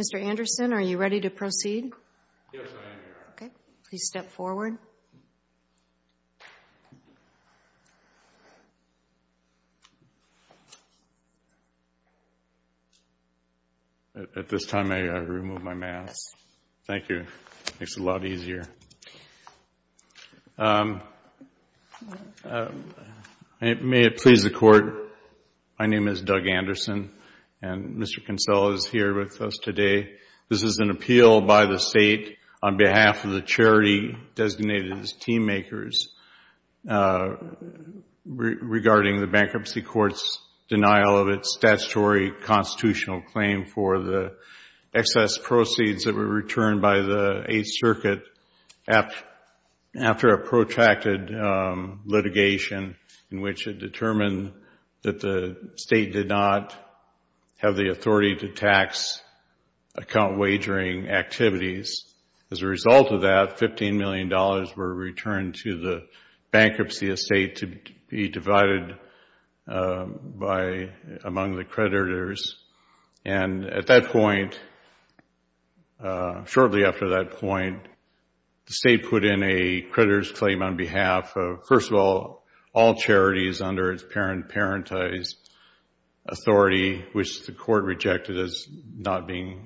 Mr. Anderson, are you ready to proceed? Yes, I am, Your Honor. Okay. Please step forward. At this time, may I remove my mask? Yes. Thank you. It makes it a lot easier. May it please the Court, my name is Doug Anderson, and Mr. Kinsella is here with us today. This is an appeal by the State on behalf of the charity designated as Team Makers regarding the Bankruptcy Court's denial of its statutory constitutional claim for the excess proceeds that were returned by the Eighth Circuit after a protracted litigation in which it determined that the State did not have the authority to tax account wagering activities. As a result of that, $15 million were returned to the bankruptcy estate to be divided among the creditors. And at that point, shortly after that point, the State put in a creditor's claim on behalf of, first of all, all charities under its parent-parentized authority, which the Court rejected as not meeting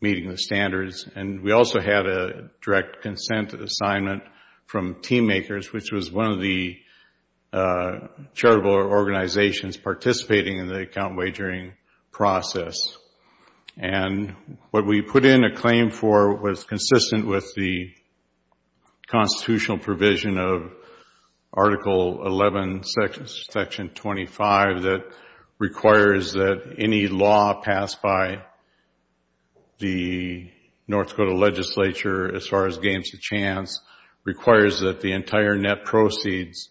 the standards. And we also had a direct consent assignment from Team Makers, which was one of the charitable organizations participating in the account wagering process. And what we put in a claim for was consistent with the constitutional provision of Article 11, Section 25, that requires that any law passed by the North Dakota legislature, as far as games of chance, requires that the entire net proceeds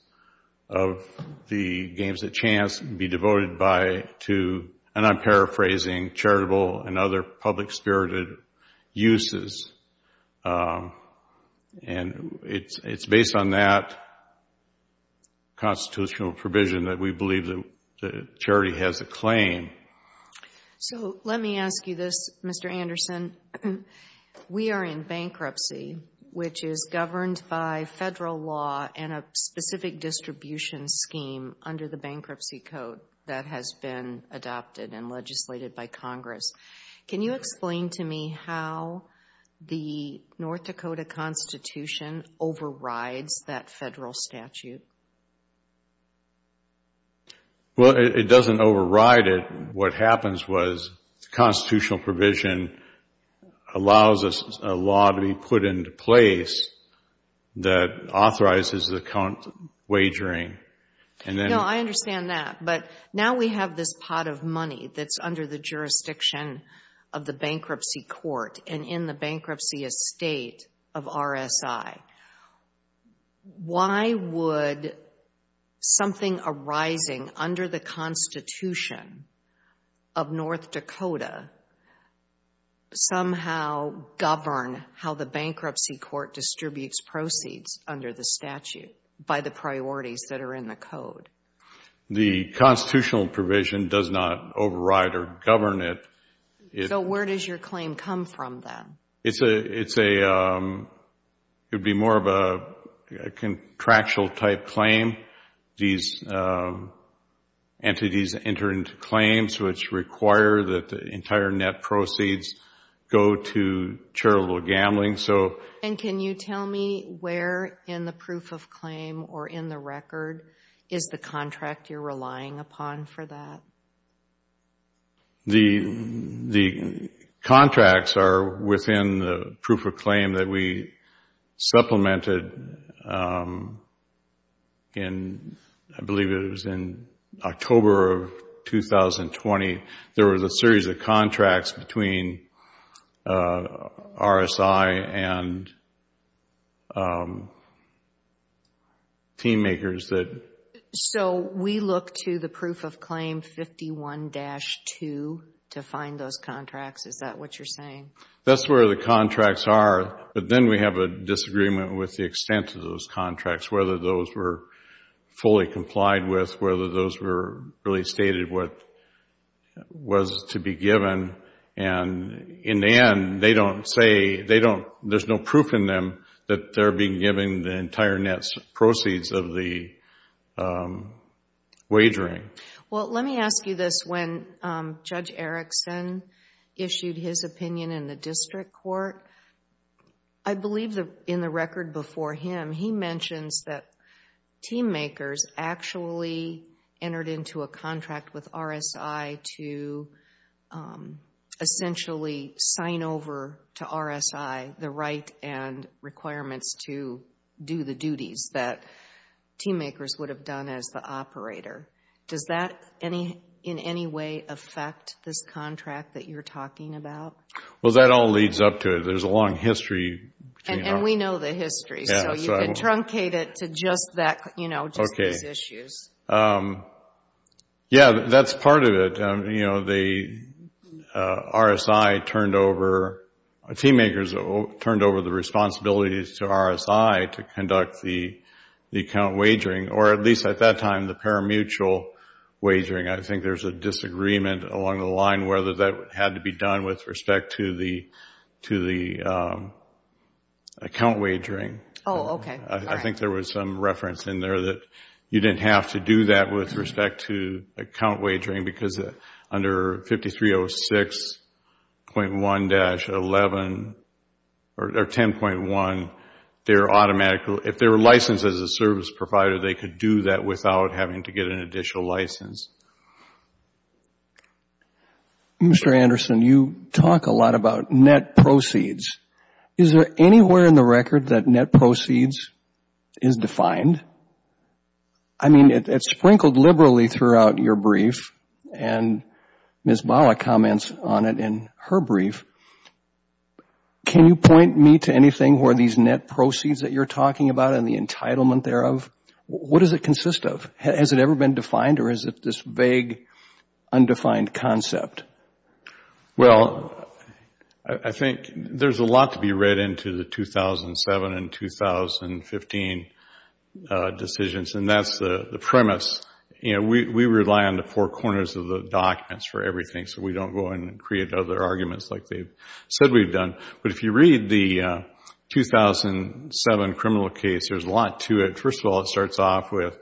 of the games of chance be devoted to, and I'm paraphrasing, charitable and other public-spirited uses. And it's based on that constitutional provision that we believe the charity has a claim. So, let me ask you this, Mr. Anderson. We are in bankruptcy, which is governed by Federal law and a specific distribution scheme under the Bankruptcy Code that has been adopted and legislated by Congress. Can you explain to me how the North Dakota Constitution overrides that Federal statute? Well, it doesn't override it. What happens was the constitutional provision allows a law to be put into place that authorizes the account wagering. No, I understand that. But now we have this pot of money that's under the jurisdiction of the bankruptcy court and in the bankruptcy estate of RSI. Why would something arising under the Constitution of North Dakota somehow govern how the bankruptcy court distributes proceeds under the statute by the priorities that are in the code? The constitutional provision does not override or govern it. It would be more of a contractual-type claim. These entities enter into claims which require that the entire net proceeds go to charitable gambling. And can you tell me where in the proof of claim or in the record is the contract you're relying upon for that? The contracts are within the proof of claim that we supplemented in, I believe it was in October of 2020. There was a series of contracts between RSI and team makers that... So we look to the proof of claim 51-2 to find those contracts? Is that what you're saying? That's where the contracts are. But then we have a disagreement with the extent of those contracts, whether those were fully complied with, whether those were really stated what was to be given. And in the end, they don't say, there's no proof in them that they're being given the entire net proceeds of the wagering. Well, let me ask you this. When Judge Erickson issued his opinion in the district court, I believe in the record before him, he mentions that team makers actually entered into a contract with RSI to essentially sign over to RSI the right and requirements to do the duties that team makers would have done as the operator. Does that in any way affect this contract that you're talking about? Well, that all leads up to it. There's a long history. And we know the history, so you can truncate it to just these issues. Yeah, that's part of it. You know, the RSI turned over, team makers turned over the responsibilities to RSI to conduct the account wagering, or at least at that time, the parimutuel wagering. I think there's a disagreement along the line whether that had to be done with respect to the account wagering. Oh, okay. I think there was some reference in there that you didn't have to do that with respect to account wagering because under 5306.1-11 or 10.1, if they were licensed as a service provider, they could do that without having to get an additional license. Mr. Anderson, you talk a lot about net proceeds. Is there anywhere in the record that net proceeds is defined? I mean, it's sprinkled liberally throughout your brief, and Ms. Bala comments on it in her brief. Can you point me to anything where these net proceeds that you're talking about and the entitlement thereof, what does it consist of? Has it ever been defined or is it this vague, undefined concept? Well, I think there's a lot to be read into the 2007 and 2015 decisions, and that's the premise. We rely on the four corners of the documents for everything, so we don't go in and create other arguments like they've said we've done. But if you read the 2007 criminal case, there's a lot to it. First of all, it starts off with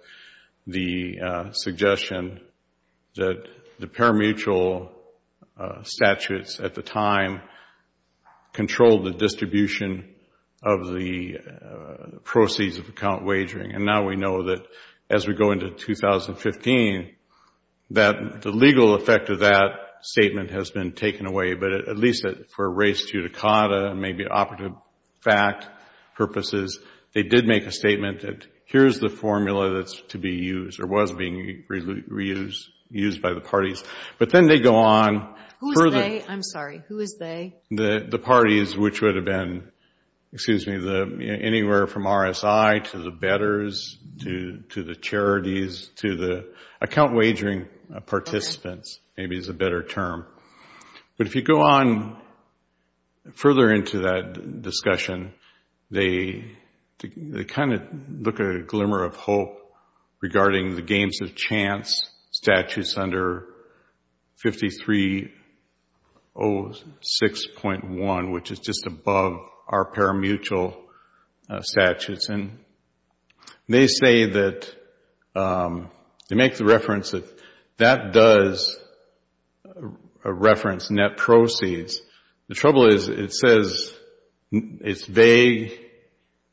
the suggestion that the parimutuel statutes at the time controlled the distribution of the proceeds of account wagering. And now we know that as we go into 2015, that the legal effect of that statement has been taken away, but at least for race judicata and maybe operative fact purposes, they did make a statement that here's the formula that's to be used or was being reused by the parties. But then they go on further. Who is they? I'm sorry. Who is they? The parties, which would have been anywhere from RSI to the bettors to the charities to the account wagering participants, maybe is a better term. But if you go on further into that discussion, they kind of look at a glimmer of hope regarding the games of chance statutes under 5306.1, which is just above our parimutuel statutes. And they say that they make the reference that that does reference net proceeds. The trouble is it says it's vague,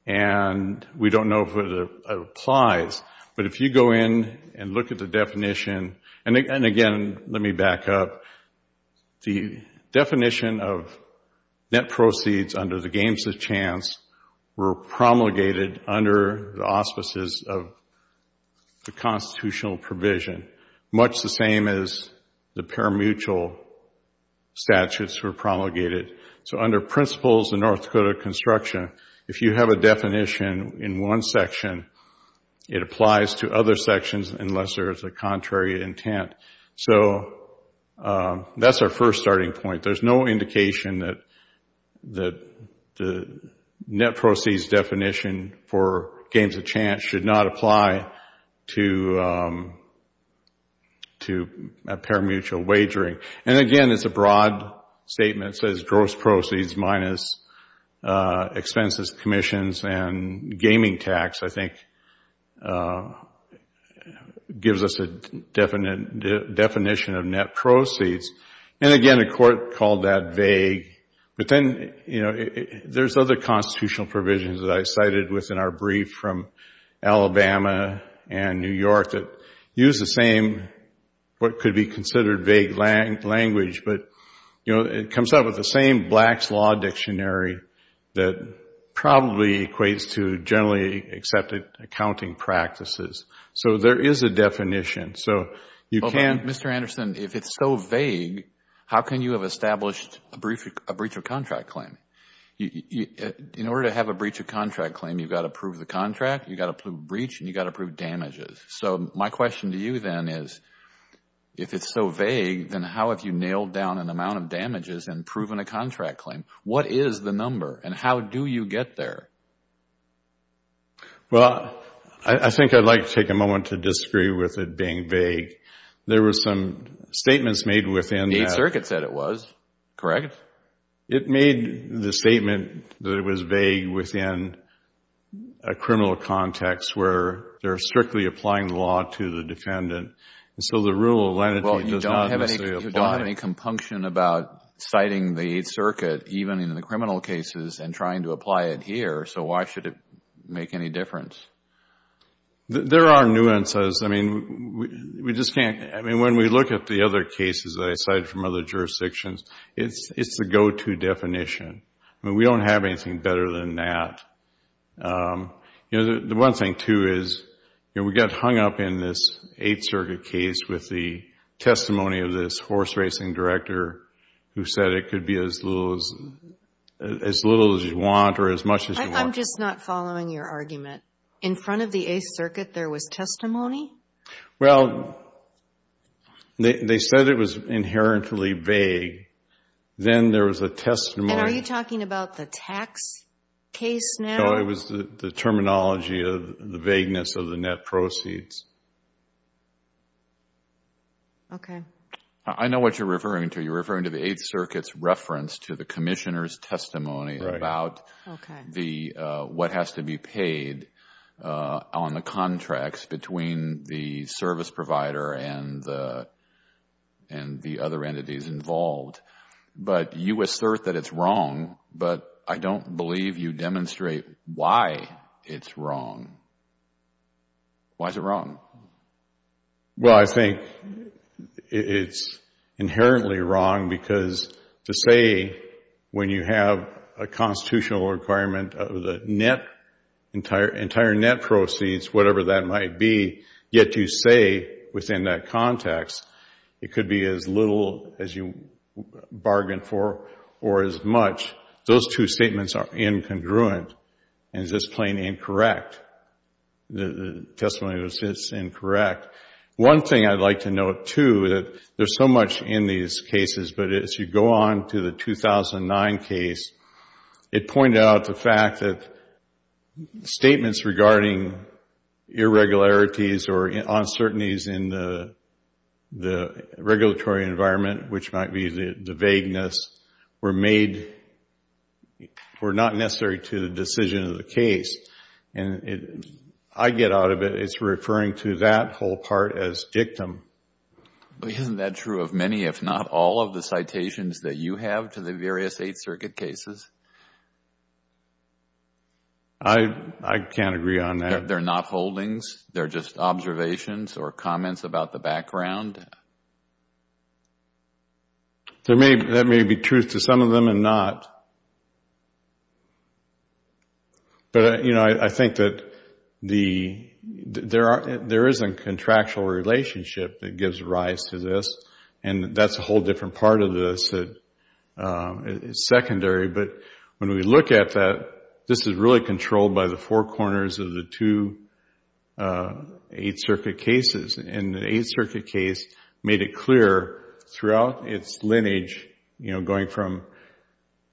and we don't know if it applies. But if you go in and look at the definition, and again let me back up, the definition of net proceeds under the games of chance were promulgated under the auspices of the constitutional provision, much the same as the parimutuel statutes were promulgated. So under principles of North Dakota construction, if you have a definition in one section, it applies to other sections unless there is a contrary intent. So that's our first starting point. There's no indication that the net proceeds definition for games of chance should not apply to parimutuel wagering. And again, it's a broad statement. It says gross proceeds minus expenses, commissions, and gaming tax, I think gives us a definition of net proceeds. And again, the court called that vague. But then there's other constitutional provisions that I cited within our brief from Alabama and New York that use the same what could be considered vague language, but it comes up with the same Black's Law Dictionary that probably equates to generally accepted accounting practices. So there is a definition. But Mr. Anderson, if it's so vague, how can you have established a breach of contract claim? In order to have a breach of contract claim, you've got to prove the contract, you've got to prove breach, and you've got to prove damages. So my question to you then is if it's so vague, then how have you nailed down an amount of damages and proven a contract claim? What is the number and how do you get there? Well, I think I'd like to take a moment to disagree with it being vague. There were some statements made within that. The Eighth Circuit said it was, correct? It made the statement that it was vague within a criminal context where they're strictly applying the law to the defendant. And so the rule of lenity does not necessarily apply. Well, you don't have any compunction about citing the Eighth Circuit, even in the criminal cases, and trying to apply it here. So why should it make any difference? There are nuances. I mean, we just can't. I mean, when we look at the other cases that I cited from other jurisdictions, it's the go-to definition. I mean, we don't have anything better than that. The one thing, too, is we got hung up in this Eighth Circuit case with the testimony of this horse racing director who said it could be as little as you want or as much as you want. I'm just not following your argument. In front of the Eighth Circuit there was testimony? Well, they said it was inherently vague. Then there was a testimony. And are you talking about the tax case now? No, it was the terminology of the vagueness of the net proceeds. Okay. I know what you're referring to. You're referring to the Eighth Circuit's reference to the commissioner's testimony about what has to be paid on the contracts between the service provider and the other entities involved. But you assert that it's wrong, but I don't believe you demonstrate why it's wrong. Why is it wrong? Well, I think it's inherently wrong because to say when you have a constitutional requirement of the entire net proceeds, whatever that might be, yet you say within that context it could be as little as you bargained for or as much, those two statements are incongruent and just plain incorrect. The testimony was just incorrect. One thing I'd like to note, too, that there's so much in these cases, but as you go on to the 2009 case, it pointed out the fact that statements regarding irregularities or uncertainties in the regulatory environment, which might be the vagueness, were not necessary to the decision of the case. And I get out of it, it's referring to that whole part as dictum. Isn't that true of many, if not all, of the citations that you have to the various Eighth Circuit cases? I can't agree on that. They're not holdings? They're just observations or comments about the background? That may be true to some of them and not. But I think that there is a contractual relationship that gives rise to this, and that's a whole different part of this that is secondary. But when we look at that, this is really controlled by the four corners of the two Eighth Circuit cases. And the Eighth Circuit case made it clear throughout its lineage, going from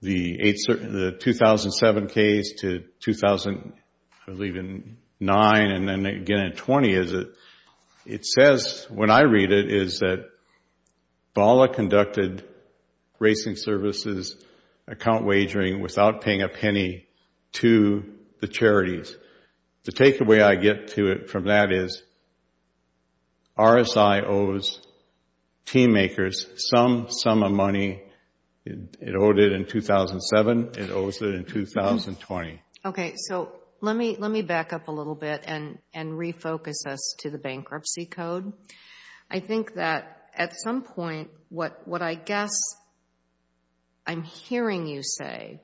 the 2007 case to 2009 and then again in 20, it says, when I read it, is that BALA conducted racing services account wagering without paying a penny to the charities. The takeaway I get to it from that is RSI owes team makers some sum of money. It owed it in 2007. It owes it in 2020. Okay. So let me back up a little bit and refocus us to the bankruptcy code. I think that at some point what I guess I'm hearing you say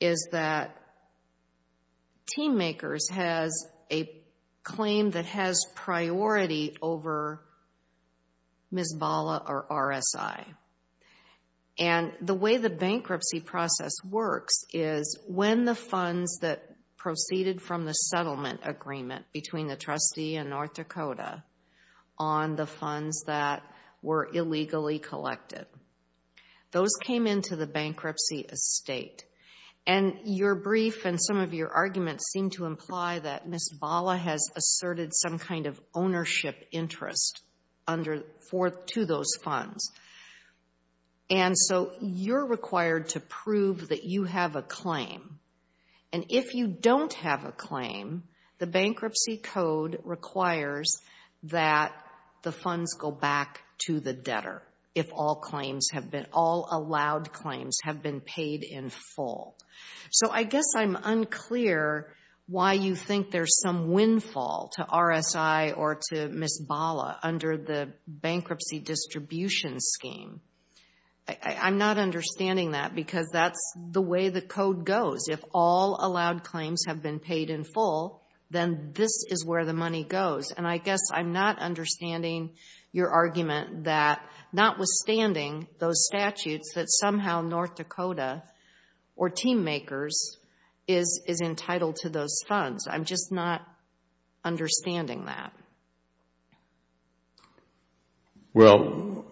is that team makers has a claim that has priority over Ms. BALA or RSI. And the way the bankruptcy process works is when the funds that proceeded from the settlement agreement between the trustee and North Dakota on the funds that were illegally collected, those came into the bankruptcy estate. And your brief and some of your arguments seem to imply that Ms. BALA has asserted some kind of ownership interest to those funds. And so you're required to prove that you have a claim. And if you don't have a claim, the bankruptcy code requires that the funds go back to the debtor if all claims have been, all allowed claims have been paid in full. So I guess I'm unclear why you think there's some windfall to RSI or to Ms. BALA under the bankruptcy distribution scheme. I'm not understanding that because that's the way the code goes. If all allowed claims have been paid in full, then this is where the money goes. And I guess I'm not understanding your argument that notwithstanding those statutes that somehow North Dakota or team makers is entitled to those funds. I'm just not understanding that. Well,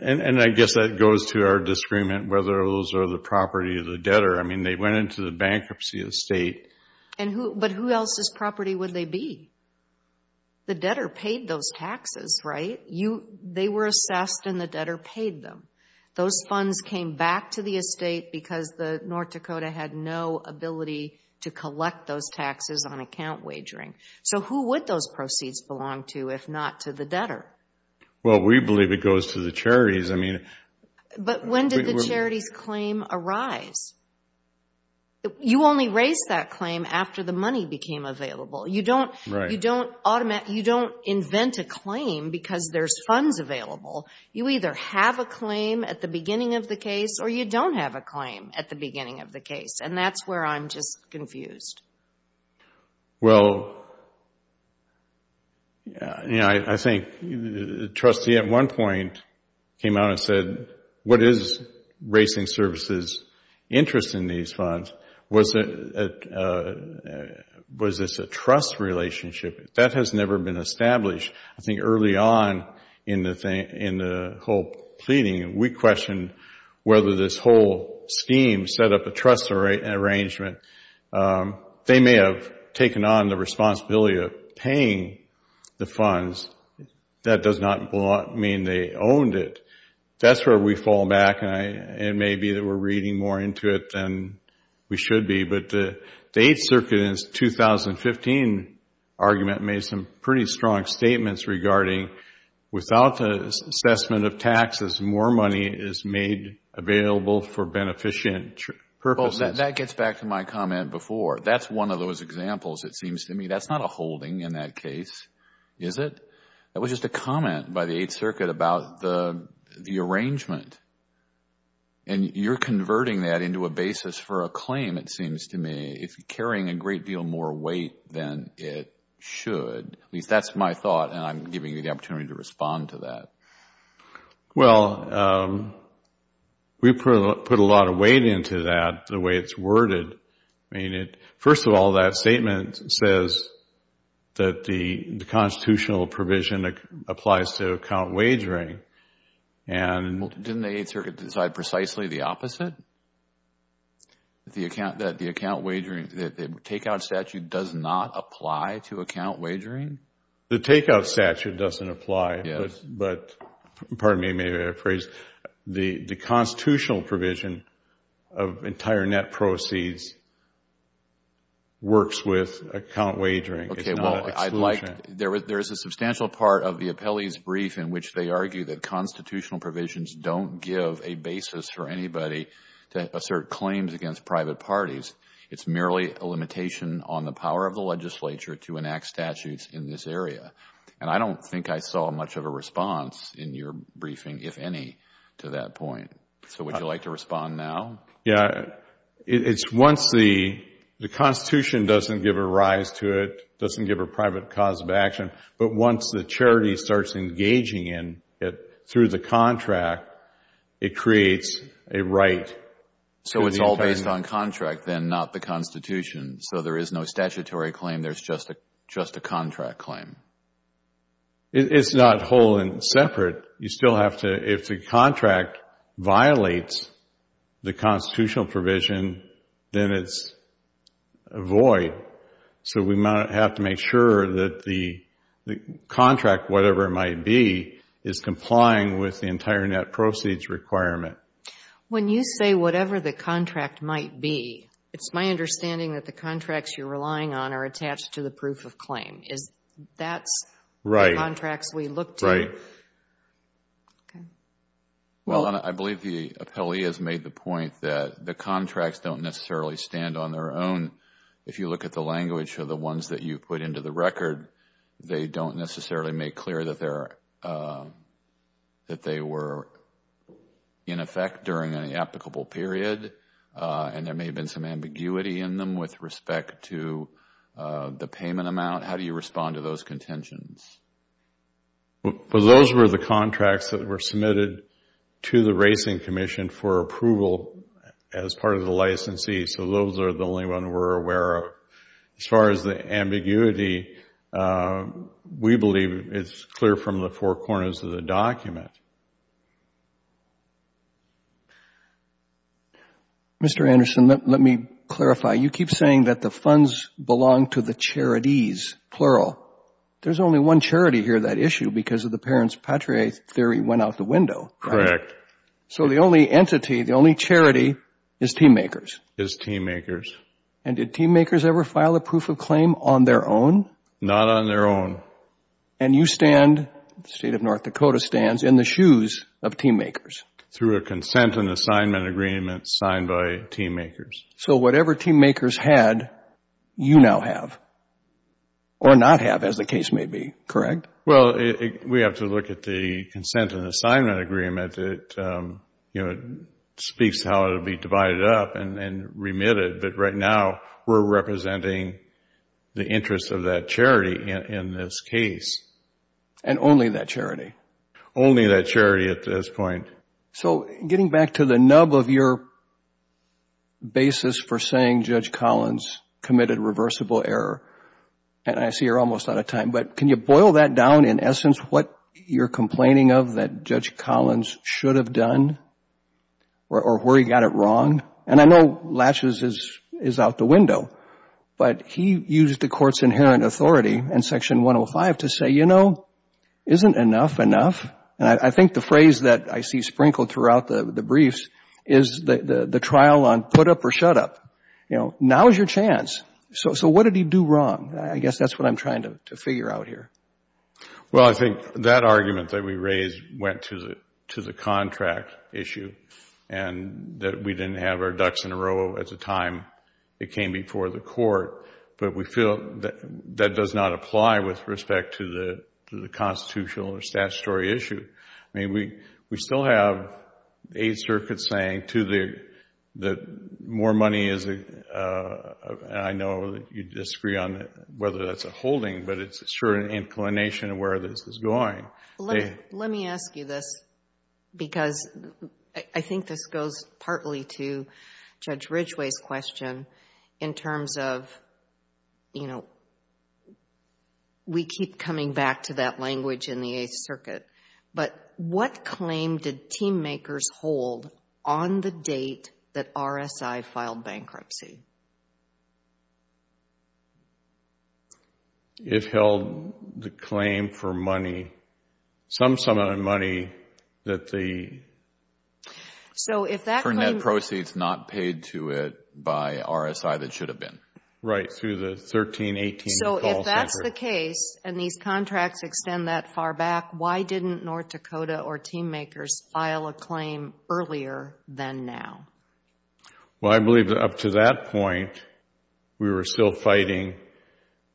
and I guess that goes to our disagreement whether those are the property of the debtor. I mean, they went into the bankruptcy estate. But who else's property would they be? The debtor paid those taxes, right? They were assessed and the debtor paid them. Those funds came back to the estate because North Dakota had no ability to collect those taxes on account wagering. So who would those proceeds belong to if not to the debtor? Well, we believe it goes to the charities. But when did the charity's claim arise? You only raise that claim after the money became available. You don't invent a claim because there's funds available. You either have a claim at the beginning of the case or you don't have a claim at the beginning of the case. And that's where I'm just confused. Well, I think the trustee at one point came out and said, what is Racing Services' interest in these funds? Was this a trust relationship? That has never been established. I think early on in the whole pleading, we questioned whether this whole scheme set up a trust arrangement. They may have taken on the responsibility of paying the funds. That does not mean they owned it. That's where we fall back. It may be that we're reading more into it than we should be. But the Eighth Circuit in its 2015 argument made some pretty strong statements regarding without the assessment of taxes, more money is made available for beneficent purposes. That gets back to my comment before. That's one of those examples, it seems to me. That's not a holding in that case, is it? That was just a comment by the Eighth Circuit about the arrangement. And you're converting that into a basis for a claim, it seems to me. It's carrying a great deal more weight than it should. At least that's my thought, and I'm giving you the opportunity to respond to that. Well, we put a lot of weight into that, the way it's worded. First of all, that statement says that the constitutional provision applies to account wagering. Didn't the Eighth Circuit decide precisely the opposite? That the account wagering, the take-out statute does not apply to account wagering? The take-out statute doesn't apply. But, pardon me, maybe I phrased it. The constitutional provision of entire net proceeds works with account wagering. It's not exclusion. There is a substantial part of the appellee's brief in which they argue that constitutional provisions don't give a basis for anybody to assert claims against private parties. It's merely a limitation on the power of the legislature to enact statutes in this area. And I don't think I saw much of a response in your briefing, if any, to that point. So would you like to respond now? Yeah. It's once the Constitution doesn't give a rise to it, doesn't give a private cause of action, but once the charity starts engaging in it through the contract, it creates a right. So it's all based on contract, then, not the Constitution. So there is no statutory claim. There's just a contract claim. It's not whole and separate. If the contract violates the constitutional provision, then it's a void. So we might have to make sure that the contract, whatever it might be, is complying with the entire net proceeds requirement. When you say whatever the contract might be, it's my understanding that the contracts you're relying on are attached to the proof of claim. That's the contracts we look to. Right. Okay. Well, I believe the appellee has made the point that the contracts don't necessarily stand on their own. If you look at the language of the ones that you put into the record, they don't necessarily make clear that they were in effect during an applicable period, and there may have been some ambiguity in them with respect to the payment amount. How do you respond to those contentions? Well, those were the contracts that were submitted to the Racing Commission for approval as part of the licensee. So those are the only ones we're aware of. As far as the ambiguity, we believe it's clear from the four corners of the document. Mr. Anderson, let me clarify. You keep saying that the funds belong to the charities, plural. There's only one charity here, that issue, because of the parents' patriae theory went out the window. Correct. So the only entity, the only charity, is TeamMakers. Is TeamMakers. And did TeamMakers ever file a proof of claim on their own? Not on their own. And you stand, the State of North Dakota stands, in the shoes of TeamMakers. Through a consent and assignment agreement signed by TeamMakers. So whatever TeamMakers had, you now have. Or not have, as the case may be. Correct? Well, we have to look at the consent and assignment agreement. It speaks to how it will be divided up and remitted. But right now, we're representing the interest of that charity in this case. And only that charity? Only that charity at this point. So getting back to the nub of your basis for saying Judge Collins committed reversible error, and I see you're almost out of time, but can you boil that down in essence, what you're complaining of that Judge Collins should have done, or where he got it wrong? And I know laches is out the window, but he used the Court's inherent authority in Section 105 to say, you know, isn't enough enough? And I think the phrase that I see sprinkled throughout the briefs is the trial on put up or shut up. You know, now is your chance. So what did he do wrong? I guess that's what I'm trying to figure out here. Well, I think that argument that we raised went to the contract issue, and that we didn't have our ducks in a row at the time it came before the Court. But we feel that that does not apply with respect to the constitutional or statutory issue. I mean, we still have Eighth Circuit saying that more money is, and I know you disagree on whether that's a holding, but it's a certain inclination of where this is going. Let me ask you this, because I think this goes partly to Judge Ridgeway's question in terms of you know, we keep coming back to that language in the Eighth Circuit, but what claim did team makers hold on the date that RSI filed bankruptcy? It held the claim for money, some sum of the money that the For net proceeds not paid to it by RSI that should have been. Right, through the 1318. So if that's the case, and these contracts extend that far back, why didn't North Dakota or team makers file a claim earlier than now? Well, I believe that up to that point, we were still fighting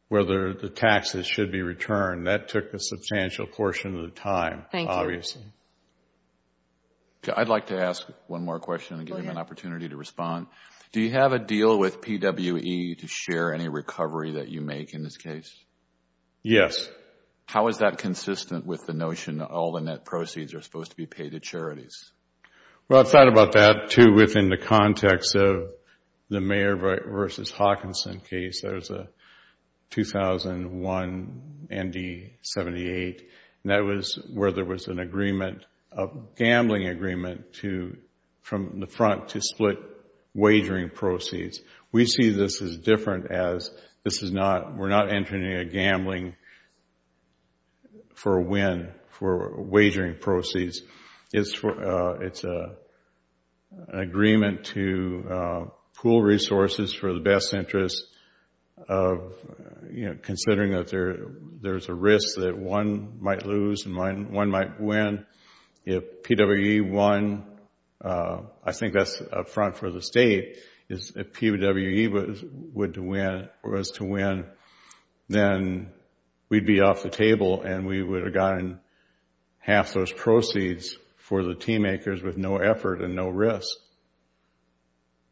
whether the taxes should be returned. That took a substantial portion of the time, obviously. Thank you. Do you have a deal with PWE to share any recovery that you make in this case? Yes. How is that consistent with the notion that all the net proceeds are supposed to be paid to charities? Well, I've thought about that, too, within the context of the Mayer v. Hawkinson case. There was a 2001 ND78, and that was where there was an agreement, a gambling agreement, from the front to split wagering proceeds. We see this as different as this is not, we're not entering a gambling for a win for wagering proceeds. It's an agreement to pool resources for the best interest of, you know, considering that there's a risk that one might lose and one might win. If PWE won, I think that's up front for the state, if PWE was to win, then we'd be off the table and we would have gotten half those proceeds for the team makers with no effort and no risk.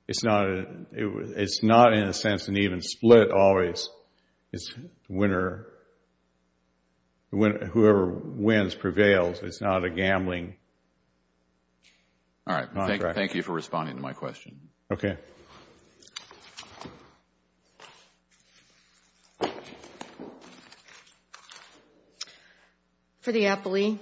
It's not, in a sense, an even split always. It's the winner, whoever wins prevails. It's not a gambling contract. All right. Thank you for responding to my question. Okay. Thank you. For the appellee.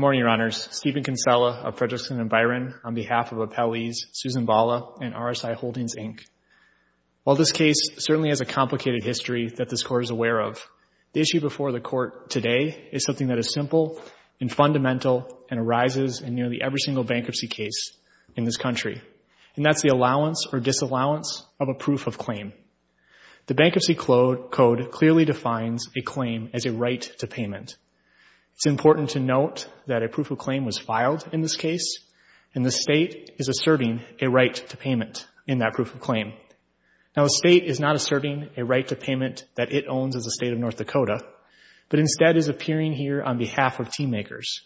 of Fredrickson & Byron on behalf of appellees Susan Bala and RSI Holdings, Inc. While this case certainly has a complicated history that this Court is aware of, the issue before the Court today is something that is simple and fundamental and arises in nearly every single bankruptcy case in this country, and that's the allowance or disallowance of a proof of claim. The Bankruptcy Code clearly defines a claim as a right to payment. It's important to note that a proof of claim was filed in this case and the State is asserting a right to payment in that proof of claim. Now the State is not asserting a right to payment that it owns as a State of North Dakota, but instead is appearing here on behalf of team makers,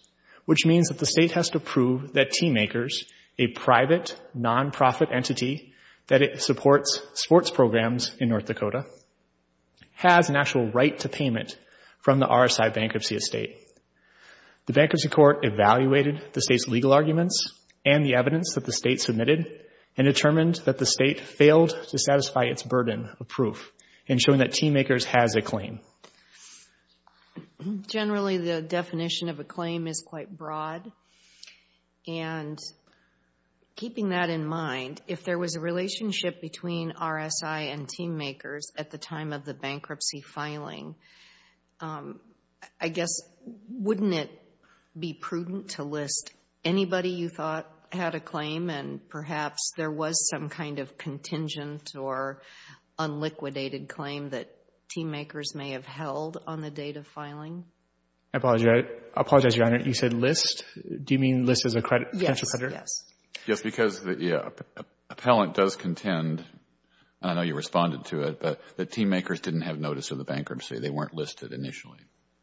which means that the State has to prove that team makers, a private non-profit entity that supports sports programs in North Dakota, has an actual right to payment from the RSI bankruptcy estate. The Bankruptcy Court evaluated the State's legal arguments and the evidence that the State submitted and determined that the State failed to satisfy its burden of proof in showing that team makers has a claim. Generally the definition of a claim is quite broad, and keeping that in mind, if there was a relationship between RSI and team makers at the time of the bankruptcy filing, I guess wouldn't it be prudent to list anybody you thought had a claim and perhaps there was some kind of contingent or unliquidated claim that team makers may have held on the date of filing? I apologize, Your Honor. You said list? Do you mean list as a financial creditor? Yes. Yes, because the appellant does contend, I know you responded to it, that team makers didn't have notice of the bankruptcy. They weren't listed initially.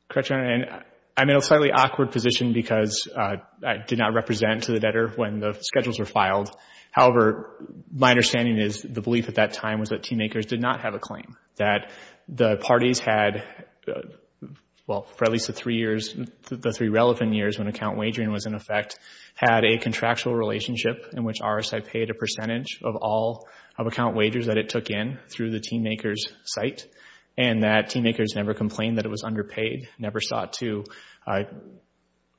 Correct, Your Honor. And I'm in a slightly awkward position because I did not represent to the debtor when the schedules were filed. However, my understanding is the belief at that time was that team makers did not have a claim, that the parties had, well, for at least the three years, the three relevant years when account wagering was in effect, had a contractual relationship in which RSI paid a percentage of all of account wagers that it took in through the team maker's site and that team makers never complained that it was underpaid, never sought to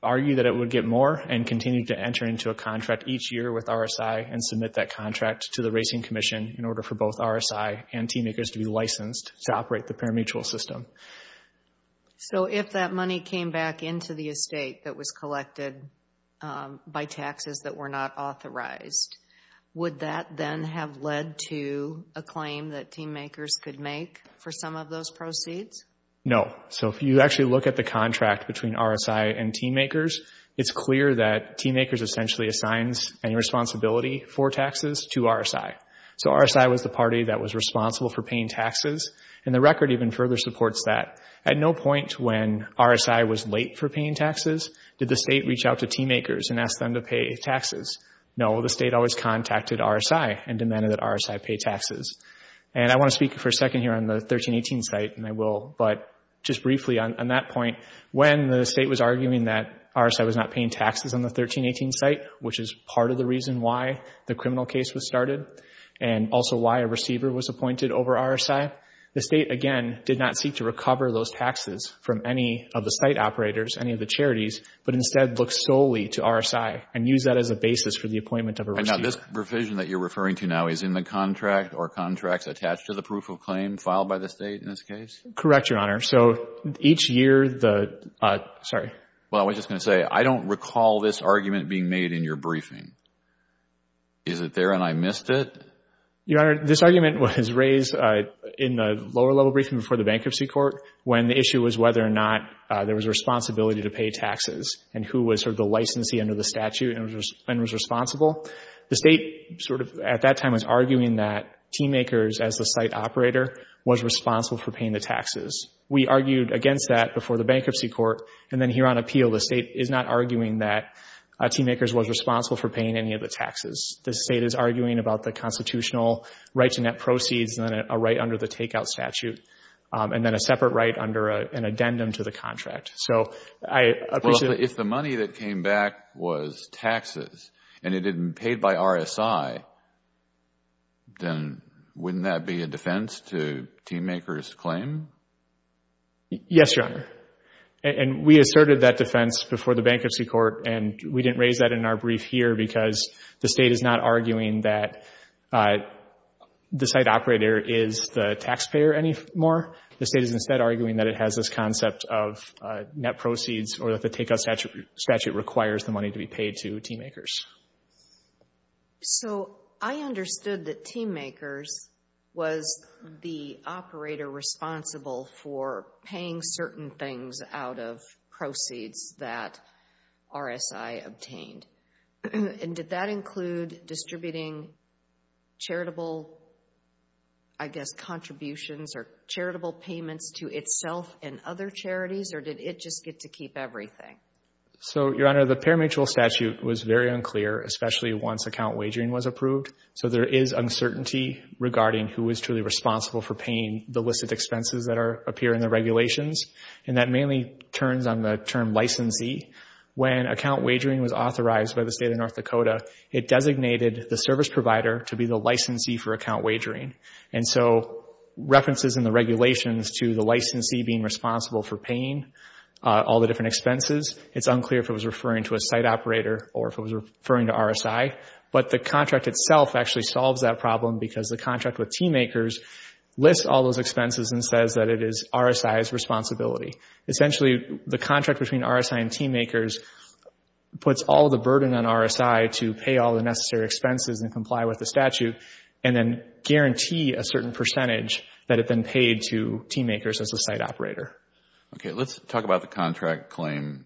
argue that it would get more and continued to enter into a contract each year with RSI and submit that contract to the Racing Commission in order for both RSI and team makers to be licensed to operate the parimutuel system. So if that money came back into the estate that was collected by taxes that were not authorized, would that then have led to a claim that team makers could make for some of those proceeds? No. So if you actually look at the contract between RSI and team makers, it's clear that team makers essentially assigns any responsibility for taxes to RSI. So RSI was the party that was responsible for paying taxes and the record even further supports that. At no point when RSI was late for paying taxes did the state reach out to team makers and ask them to pay taxes. No, the state always contacted RSI and demanded that RSI pay taxes. And I want to speak for a second here on the 1318 site, and I will, but just briefly on that point, when the state was arguing that RSI was not paying taxes on the 1318 site, which is part of the reason why the criminal case was started and also why a receiver was appointed over RSI, the state, again, did not seek to recover those taxes from any of the site operators, any of the charities, but instead looked solely to RSI and used that as a basis for the appointment of a receiver. And now this provision that you're referring to now is in the contract or contracts attached to the proof of claim filed by the state in this case? Correct, Your Honor. So each year the, sorry. Well, I was just going to say, I don't recall this argument being made in your briefing. Is it there and I missed it? Your Honor, this argument was raised in the lower level briefing before the bankruptcy court when the issue was whether or not there was a responsibility to pay taxes and who was sort of the licensee under the statute and was responsible. The state sort of at that time was arguing that TMAKERS, as the site operator, was responsible for paying the taxes. We argued against that before the bankruptcy court, and then here on appeal, the state is not arguing that TMAKERS was responsible for paying any of the taxes. The state is arguing about the constitutional right to net proceeds and then a right under the takeout statute and then a separate right under an addendum to the contract. So I appreciate it. Well, if the money that came back was taxes and it had been paid by RSI, then wouldn't that be a defense to TMAKERS' claim? Yes, Your Honor. And we asserted that defense before the bankruptcy court, and we didn't raise that in our brief here because the state is not arguing that the site operator is the taxpayer anymore. The state is instead arguing that it has this concept of net proceeds or that the takeout statute requires the money to be paid to TMAKERS. So I understood that TMAKERS was the operator responsible for paying certain things out of proceeds that RSI obtained. And did that include distributing charitable, I guess, contributions or charitable payments to itself and other charities, or did it just get to keep everything? So, Your Honor, the pari-matrial statute was very unclear, especially once account wagering was approved. So there is uncertainty regarding who is truly responsible for paying the listed expenses that appear in the regulations, and that mainly turns on the term licensee. When account wagering was authorized by the state of North Dakota, it designated the service provider to be the licensee for account wagering. And so references in the regulations to the licensee being responsible for paying all the different expenses, it's unclear if it was referring to a site operator or if it was referring to RSI. But the contract itself actually solves that problem because the contract with TMAKERS lists all those expenses and says that it is RSI's responsibility. Essentially, the contract between RSI and TMAKERS puts all the burden on RSI to pay all the necessary expenses and comply with the statute and then guarantee a certain percentage that had been paid to TMAKERS as a site operator. Okay. Let's talk about the contract claim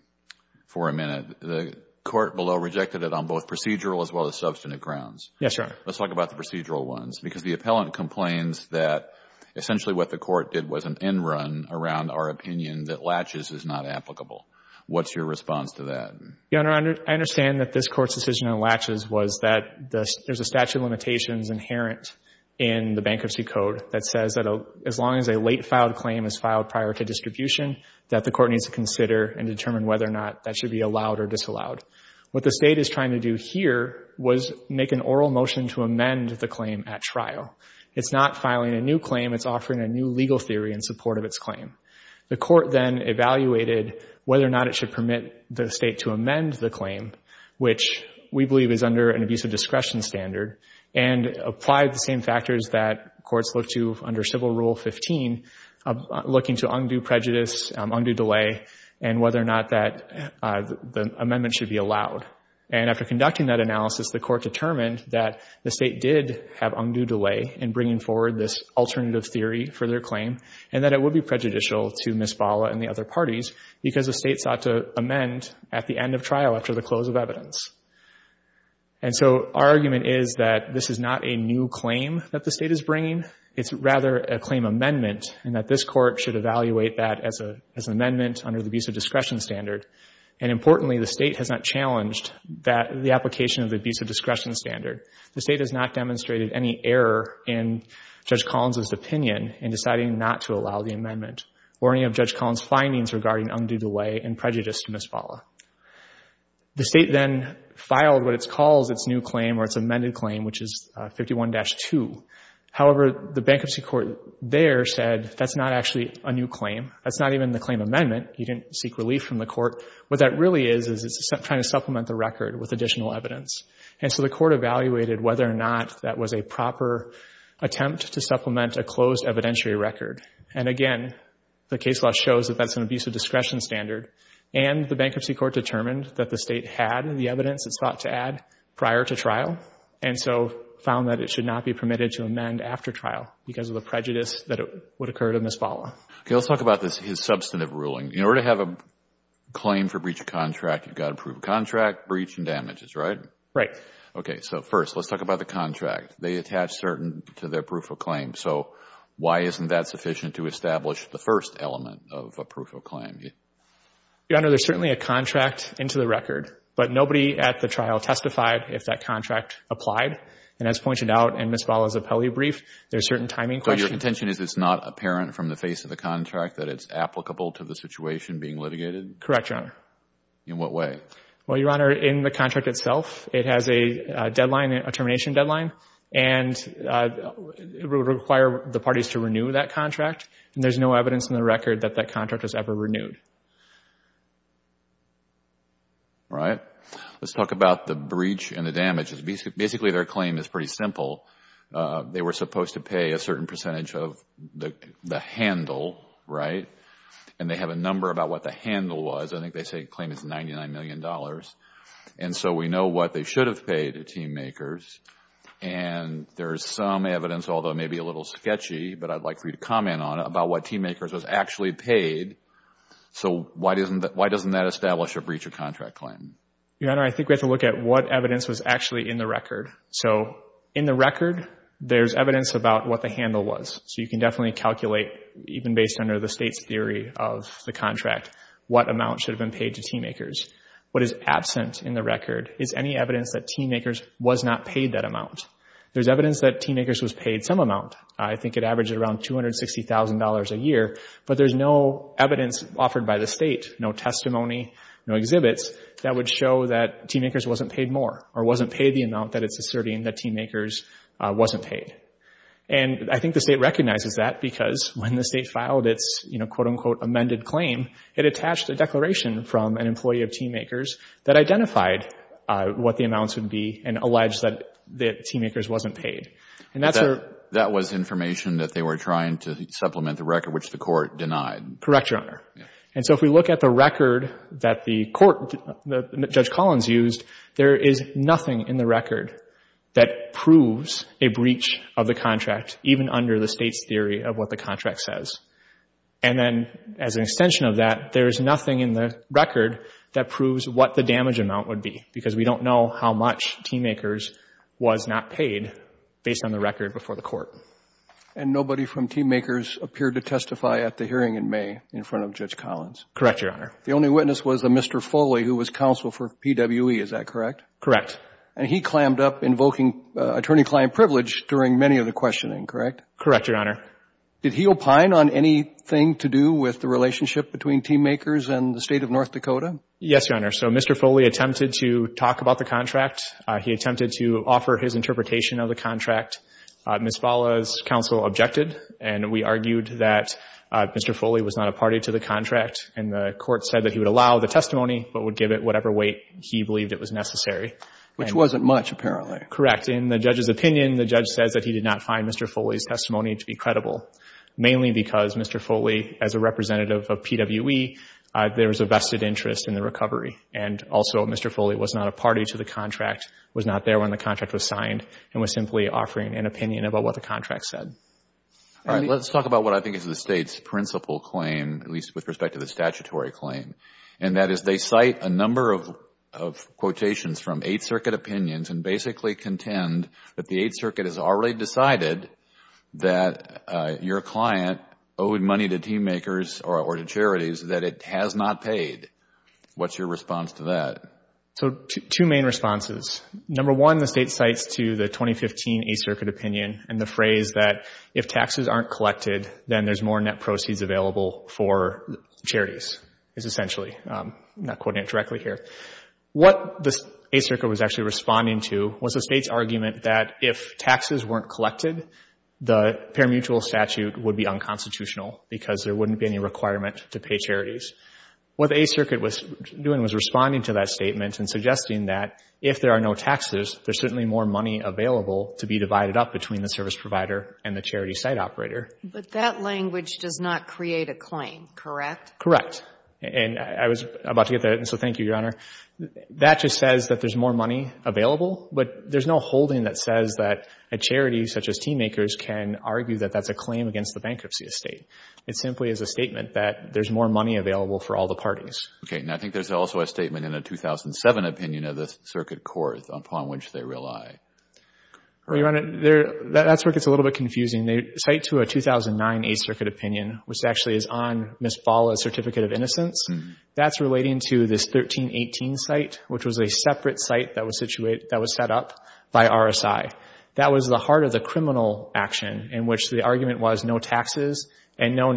for a minute. The court below rejected it on both procedural as well as substantive grounds. Yes, Your Honor. Let's talk about the procedural ones because the appellant complains that essentially what the court did was an end run around our opinion that LATCHES is not applicable. What's your response to that? Your Honor, I understand that this Court's decision on LATCHES was that there's a statute of limitations inherent in the Bankruptcy Code that says that as long as a late filed claim is filed prior to distribution, that the court needs to consider and determine whether or not that should be allowed or disallowed. What the State is trying to do here was make an oral motion to amend the claim at trial. It's not filing a new claim. It's offering a new legal theory in support of its claim. The court then evaluated whether or not it should permit the State to amend the claim, which we believe is under an abusive discretion standard, and applied the same factors that courts look to under Civil Rule 15, looking to undue prejudice, undue delay, and whether or not that amendment should be allowed. And after conducting that analysis, the court determined that the State did have undue delay in bringing forward this alternative theory for their claim and that it would be prejudicial to Ms. Bala and the other parties because the State sought to amend at the end of trial after the close of evidence. And so our argument is that this is not a new claim that the State is bringing. It's rather a claim amendment, and that this court should evaluate that as an amendment under the abusive discretion standard. And importantly, the State has not challenged the application of the abusive discretion standard. The State has not demonstrated any error in Judge Collins' opinion in deciding not to allow the amendment, or any of Judge Collins' findings regarding undue delay and prejudice to Ms. Bala. The State then filed what it calls its new claim, or its amended claim, which is 51-2. However, the bankruptcy court there said that's not actually a new claim. That's not even the claim amendment. You didn't seek relief from the court. What that really is, is it's trying to supplement the record with additional evidence. And so the court evaluated whether or not that was a proper attempt to supplement a closed evidentiary record. And again, the case law shows that that's an abusive discretion standard, and the bankruptcy court determined that the State had the evidence it's thought to add prior to trial, and so found that it should not be permitted to amend after trial because of the prejudice that would occur to Ms. Bala. Okay, let's talk about this, his substantive ruling. In order to have a claim for breach of contract, you've got to prove contract, breach, and damages, right? Right. Okay, so first, let's talk about the contract. They attach certain to their proof of claim. So why isn't that sufficient to establish the first element of a proof of claim? Your Honor, there's certainly a contract into the record, but nobody at the trial testified if that contract applied. And as pointed out, and Ms. Bala's appellee brief, there's certain timing questions. So your contention is it's not apparent from the face of the contract that it's applicable to the situation being litigated? Correct, Your Honor. In what way? Well, Your Honor, in the contract itself, it has a deadline, a termination deadline, and it would require the parties to renew that contract. And there's no evidence in the record that that contract was ever renewed. All right. Let's talk about the breach and the damages. Basically, their claim is pretty simple. They were supposed to pay a certain percentage of the handle, right? And they have a number about what the handle was. I think they say the claim is $99 million. And so we know what they should have paid the team makers. And there's some evidence, although maybe a little sketchy, but I'd like for you to comment on it, about what team makers was actually paid. So why doesn't that establish a breach of contract claim? Your Honor, I think we have to look at what evidence was actually in the record. So in the record, there's evidence about what the handle was. So you can definitely calculate, even based under the state's theory of the contract, what amount should have been paid to team makers. What is absent in the record is any evidence that team makers was not paid that amount. There's evidence that team makers was paid some amount. I think it averaged around $260,000 a year. But there's no evidence offered by the state, no testimony, no exhibits, that would show that team makers wasn't paid more or wasn't paid the amount that it's asserting that team makers wasn't paid. And I think the state recognizes that because when the state filed its, you know, quote unquote, amended claim, it attached a declaration from an employee of team makers that identified what the amounts would be and alleged that team makers wasn't paid. That was information that they were trying to supplement the record, which the court denied. Correct, Your Honor. And so if we look at the record that the court, that Judge Collins used, there is nothing in the record that proves a breach of the contract, even under the state's theory of what the contract says. And then, as an extension of that, there is nothing in the record that proves what the damage amount would be because we don't know how much team makers was not paid based on the record before the court. And nobody from team makers appeared to testify at the hearing in May in front of Judge Collins? Correct, Your Honor. The only witness was a Mr. Foley who was counsel for PWE, is that correct? Correct. And he clammed up invoking attorney-client privilege during many of the questioning, correct? Correct, Your Honor. Did he opine on anything to do with the relationship between team makers and the state of North Dakota? Yes, Your Honor. So Mr. Foley attempted to talk about the contract. He attempted to offer his interpretation of the contract. Ms. Fala's counsel objected, and we argued that Mr. Foley was not a party to the contract, and the court said that he would allow the testimony but would give it whatever weight he believed it was necessary. Which wasn't much, apparently. Correct. In the judge's opinion, the judge says that he did not find Mr. Foley's testimony to be credible, mainly because Mr. Foley, as a representative of PWE, there was a vested interest in the recovery, and also Mr. Foley was not a party to the contract, was not there when the contract was signed, and was simply offering an opinion about what the contract said. All right. Let's talk about what I think is the State's principal claim, at least with respect to the statutory claim, and that is they cite a number of quotations from Eighth Circuit opinions and basically contend that the Eighth Circuit has already decided that your client owed money to team makers or to charities that it has not paid. What's your response to that? So two main responses. Number one, the State cites to the 2015 Eighth Circuit opinion and the phrase that if taxes aren't collected, then there's more net proceeds available for charities, is essentially. I'm not quoting it directly here. What the Eighth Circuit was actually responding to was the State's argument that if taxes weren't collected, the parimutuel statute would be unconstitutional because there wouldn't be any requirement to pay charities. What the Eighth Circuit was doing was responding to that statement and suggesting that if there are no taxes, there's certainly more money available to be divided up between the service provider and the charity site operator. But that language does not create a claim, correct? Correct. And I was about to get to that, and so thank you, Your Honor. That just says that there's more money available, but there's no holding that says that a charity such as team makers can argue that that's a claim against the bankruptcy estate. It simply is a statement that there's more money available for all the parties. Okay, and I think there's also a statement in the 2007 opinion of the Circuit Court upon which they rely. Your Honor, that's where it gets a little bit confusing. They cite to a 2009 Eighth Circuit opinion, which actually is on Ms. Bala's Certificate of Innocence. That's relating to this 1318 site, which was a separate site that was set up by RSI. That was the heart of the criminal action in which the argument was no taxes and no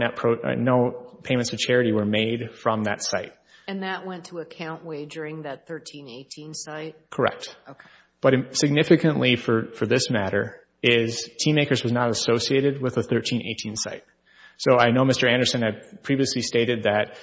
payments to charity were made from that site. And that went to account wagering that 1318 site? Correct. Okay. But significantly, for this matter, is team makers was not associated with the 1318 site. So I know Mr. Anderson had previously stated that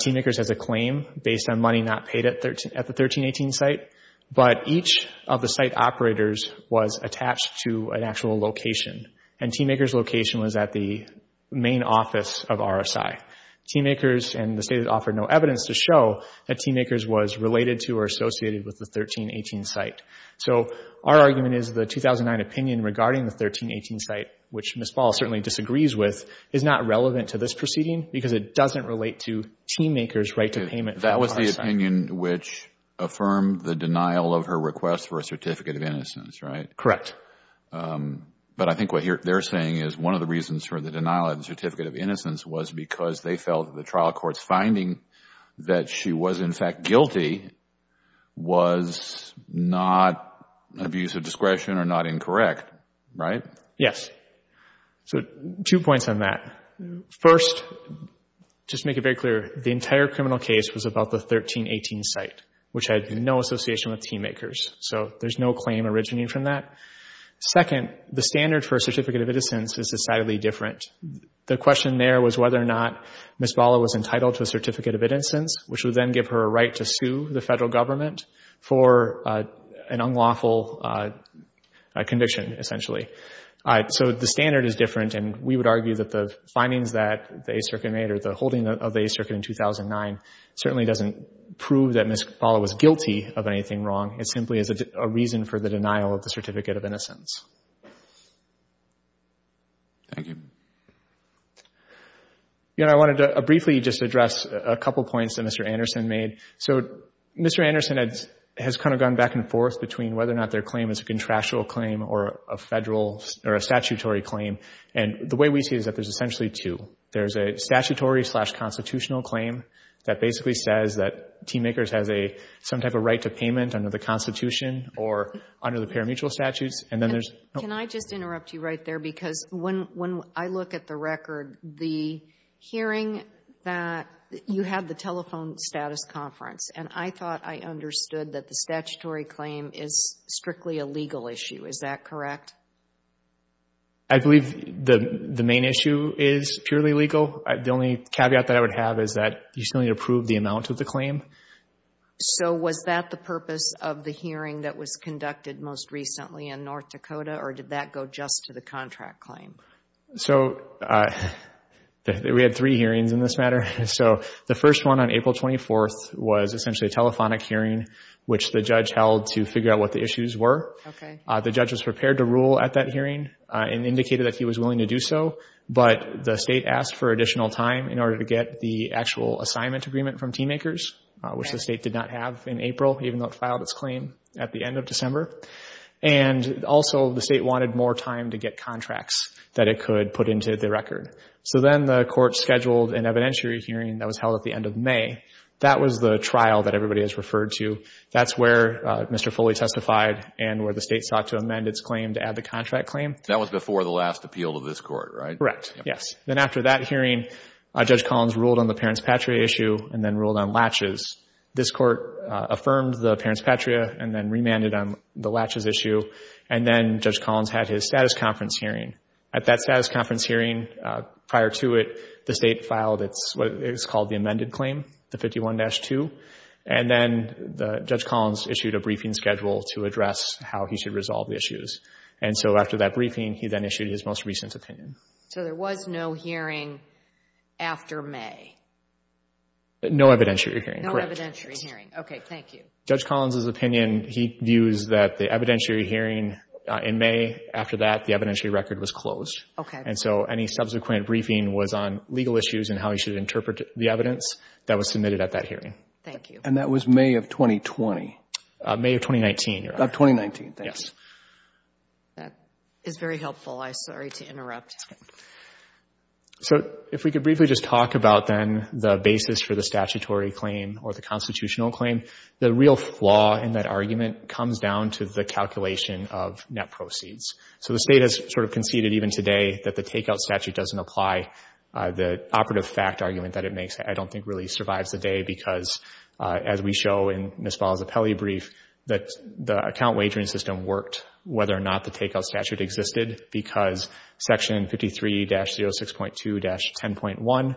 team makers has a claim based on money not paid at the 1318 site, but each of the site operators was attached to an actual location and team makers' location was at the main office of RSI. Team makers and the State had offered no evidence to show that team makers was related to or associated with the 1318 site. So our argument is the 2009 opinion regarding the 1318 site, which Ms. Bala certainly disagrees with, is not relevant to this proceeding because it doesn't relate to team makers' right to payment from RSI. That was the opinion which affirmed the denial of her request for a Certificate of Innocence, right? Correct. But I think what they're saying is one of the reasons for the denial of the Certificate of Innocence was because they felt the trial court's finding that she was in fact guilty was not abuse of discretion or not incorrect, right? Yes. So two points on that. First, just to make it very clear, the entire criminal case was about the 1318 site, which had no association with team makers. So there's no claim originating from that. Second, the standard for a Certificate of Innocence is decidedly different. The question there was whether or not Ms. Bala was entitled to a Certificate of Innocence, which would then give her a right to sue the federal government for an unlawful conviction, essentially. So the standard is different, and we would argue that the findings that the 8th Circuit made or the holding of the 8th Circuit in 2009 certainly doesn't prove that Ms. Bala was guilty of anything wrong. It simply is a reason for the denial of the Certificate of Innocence. Thank you. I wanted to briefly just address a couple points that Mr. Anderson made. So Mr. Anderson has kind of gone back and forth between whether or not their claim is a contractual claim or a statutory claim, and the way we see it is that there's essentially two. There's a statutory-slash-constitutional claim that basically says that team makers have some type of right to payment under the Constitution or under the parimutuel statutes, and then there's no... Can I just interrupt you right there? Because when I look at the record, the hearing that you had the telephone status conference, and I thought I understood that the statutory claim is strictly a legal issue. Is that correct? I believe the main issue is purely legal. The only caveat that I would have is that you still need to prove the amount of the claim. So was that the purpose of the hearing that was conducted most recently in North Dakota, or did that go just to the contract claim? So we had three hearings in this matter. So the first one on April 24th was essentially a telephonic hearing, which the judge held to figure out what the issues were. The judge was prepared to rule at that hearing and indicated that he was willing to do so, but the state asked for additional time in order to get the actual assignment agreement from Team Acres, which the state did not have in April, even though it filed its claim at the end of December. And also the state wanted more time to get contracts that it could put into the record. So then the court scheduled an evidentiary hearing that was held at the end of May. That was the trial that everybody has referred to. That's where Mr. Foley testified and where the state sought to amend its claim to add the contract claim. That was before the last appeal of this court, right? Correct, yes. Then after that hearing, Judge Collins ruled on the Parents Patria issue and then ruled on Latches. This court affirmed the Parents Patria and then remanded on the Latches issue, and then Judge Collins had his status conference hearing. At that status conference hearing, prior to it, the state filed what is called the amended claim, the 51-2, and then Judge Collins issued a briefing schedule to address how he should resolve the issues. And so after that briefing, he then issued his most recent opinion. So there was no hearing after May? No evidentiary hearing, correct. No evidentiary hearing. Okay, thank you. Judge Collins' opinion, he views that the evidentiary hearing in May, after that, the evidentiary record was closed. Okay. And so any subsequent briefing was on legal issues and how he should interpret the evidence that was submitted at that hearing. Thank you. And that was May of 2020? May of 2019, Your Honor. Of 2019, thanks. That is very helpful. I'm sorry to interrupt. So if we could briefly just talk about, then, the basis for the statutory claim or the constitutional claim. The real flaw in that argument comes down to the calculation of net proceeds. So the state has sort of conceded, even today, that the takeout statute doesn't apply. The operative fact argument that it makes, I don't think, really survives the day because, as we show in Ms. Ball's appellee brief, that the account wagering system worked, whether or not the takeout statute existed, because Section 53-06.2-10.1, when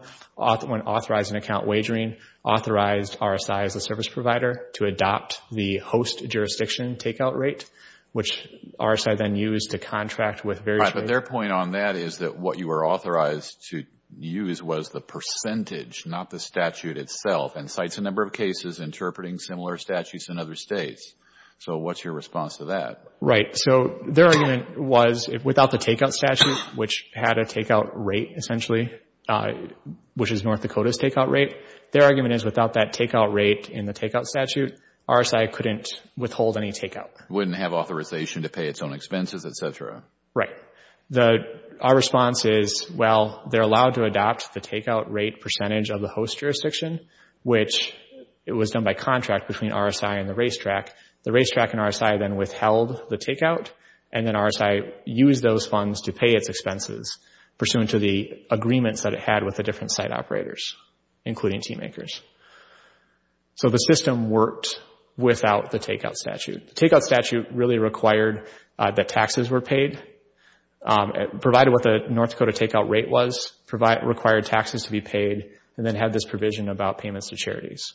authorizing account wagering, authorized RSI as a service provider to adopt the host jurisdiction takeout rate, which RSI then used to contract with various states. Right, but their point on that is that what you were authorized to use was the percentage, not the statute itself, and cites a number of cases interpreting similar statutes in other states. So what's your response to that? Right, so their argument was, without the takeout statute, which had a takeout rate, essentially, which is North Dakota's takeout rate, their argument is without that takeout rate in the takeout statute, RSI couldn't withhold any takeout. Wouldn't have authorization to pay its own expenses, et cetera. Right. Our response is, well, they're allowed to adopt the takeout rate percentage of the host jurisdiction, which was done by contract between RSI and the racetrack. The racetrack and RSI then withheld the takeout, and then RSI used those funds to pay its expenses, pursuant to the agreements that it had with the different site operators, including team makers. So the system worked without the takeout statute. The takeout statute really required that taxes were paid, provided what the North Dakota takeout rate was, required taxes to be paid, and then had this provision about payments to charities.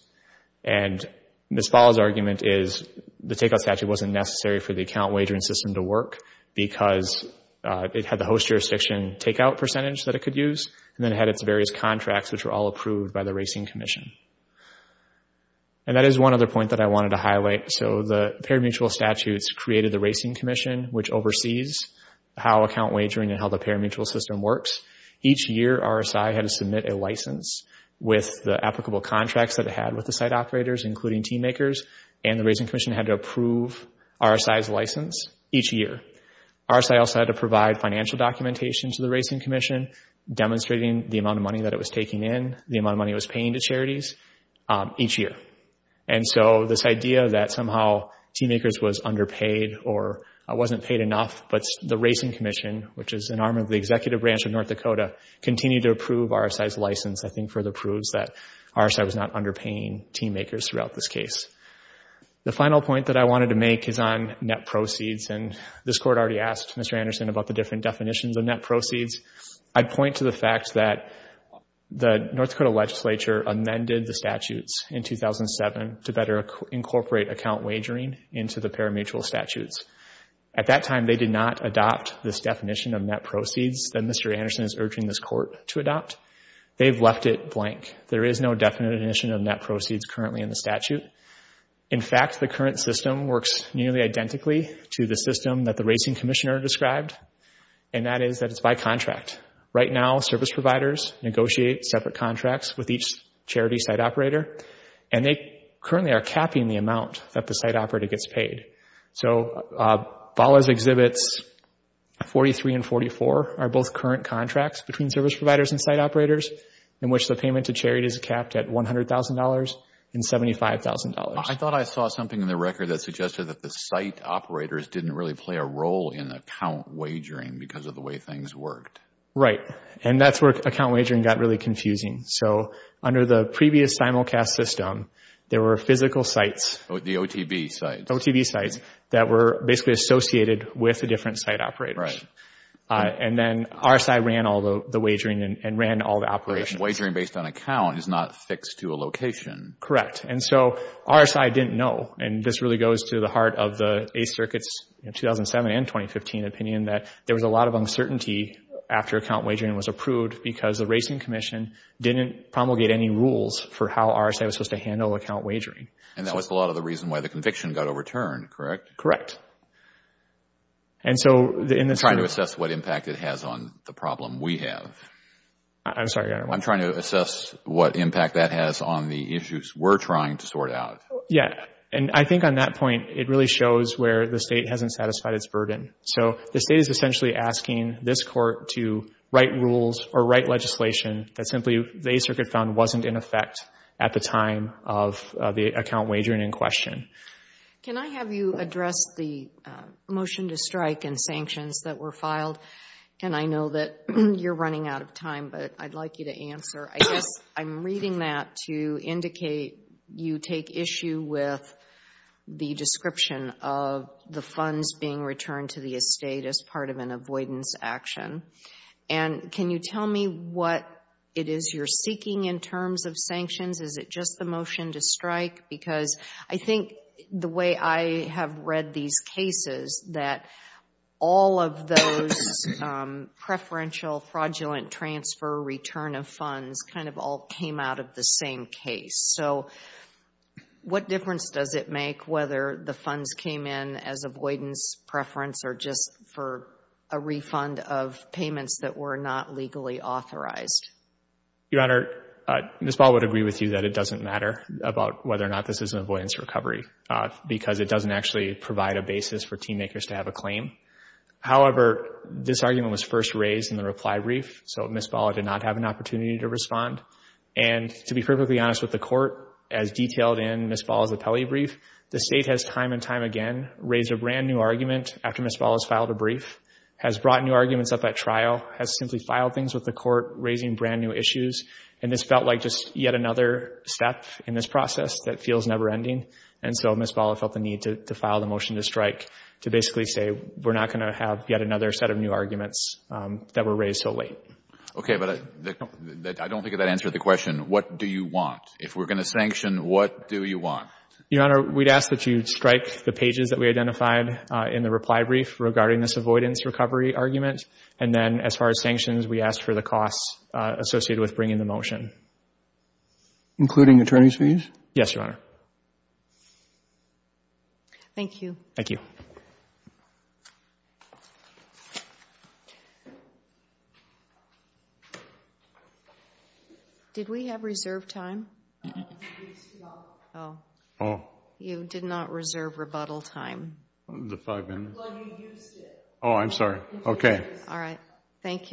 And Ms. Ball's argument is the takeout statute wasn't necessary for the account wagering system to work because it had the host jurisdiction takeout percentage that it could use, and then it had its various contracts, which were all approved by the Racing Commission. And that is one other point that I wanted to highlight. So the parimutuel statutes created the Racing Commission, which oversees how account wagering and how the parimutuel system works. Each year RSI had to submit a license with the applicable contracts that it had with the site operators, including team makers, and the Racing Commission had to approve RSI's license each year. RSI also had to provide financial documentation to the Racing Commission demonstrating the amount of money that it was taking in, the amount of money it was paying to charities each year. And so this idea that somehow team makers was underpaid or wasn't paid enough, but the Racing Commission, which is an arm of the executive branch of North Dakota, continued to approve RSI's license, I think further proves that RSI was not underpaying team makers throughout this case. The final point that I wanted to make is on net proceeds, and this Court already asked Mr. Anderson about the different definitions of net proceeds. I'd point to the fact that the North Dakota legislature amended the statutes in 2007 to better incorporate account wagering into the parimutuel statutes. At that time, they did not adopt this definition of net proceeds that Mr. Anderson is urging this Court to adopt. They've left it blank. There is no definition of net proceeds currently in the statute. In fact, the current system works nearly identically to the system that the Racing Commissioner described, and that is that it's by contract. Right now, service providers negotiate separate contracts with each charity site operator, and they currently are capping the amount that the site operator gets paid. So Ballas Exhibits 43 and 44 are both current contracts between service providers and site operators in which the payment to charity is capped at $100,000 and $75,000. I thought I saw something in the record that suggested that the site operators didn't really play a role in account wagering because of the way things worked. Right, and that's where account wagering got really confusing. So under the previous simulcast system, there were physical sites. The OTB sites. The OTB sites that were basically associated with the different site operators. Right. And then RSI ran all the wagering and ran all the operations. Wagering based on account is not fixed to a location. Correct, and so RSI didn't know, and this really goes to the heart of the 8th Circuit's 2007 and 2015 opinion that there was a lot of uncertainty after account wagering was approved because the Racing Commission didn't promulgate any rules for how RSI was supposed to handle account wagering. And that was a lot of the reason why the conviction got overturned, correct? Correct. I'm trying to assess what impact it has on the problem we have. I'm sorry. I'm trying to assess what impact that has on the issues we're trying to sort out. Yeah, and I think on that point, it really shows where the State hasn't satisfied its burden. So the State is essentially asking this Court to write rules or write legislation that simply the 8th Circuit found wasn't in effect at the time of the account wagering in question. Can I have you address the motion to strike and sanctions that were filed? And I know that you're running out of time, but I'd like you to answer. I guess I'm reading that to indicate you take issue with the description of the funds being returned to the estate as part of an avoidance action. And can you tell me what it is you're seeking in terms of sanctions? Is it just the motion to strike? Because I think the way I have read these cases, that all of those preferential fraudulent transfer return of funds kind of all came out of the same case. So what difference does it make whether the funds came in as avoidance preference or just for a refund of payments that were not legally authorized? Your Honor, Ms. Ball would agree with you that it doesn't matter about whether or not this is an avoidance recovery because it doesn't actually provide a basis for team makers to have a claim. However, this argument was first raised in the reply brief, so Ms. Ball did not have an opportunity to respond. And to be perfectly honest with the Court, as detailed in Ms. Ball's appellee brief, the State has time and time again raised a brand-new argument after Ms. Ball has filed a brief, has brought new arguments up at trial, has simply filed things with the Court, raising brand-new issues. And this felt like just yet another step in this process that feels never-ending. And so Ms. Ball felt the need to file the motion to strike to basically say we're not going to have yet another set of new arguments that were raised so late. Okay, but I don't think that answered the question, what do you want? If we're going to sanction, what do you want? Your Honor, we'd ask that you strike the pages that we identified in the reply brief regarding this avoidance recovery argument. And then as far as sanctions, we ask for the costs associated with bringing the motion. Including attorney's fees? Yes, Your Honor. Thank you. Thank you. Did we have reserved time? No. Oh. You did not reserve rebuttal time. Well, you used it. Oh, I'm sorry. Okay. All right. Thank you.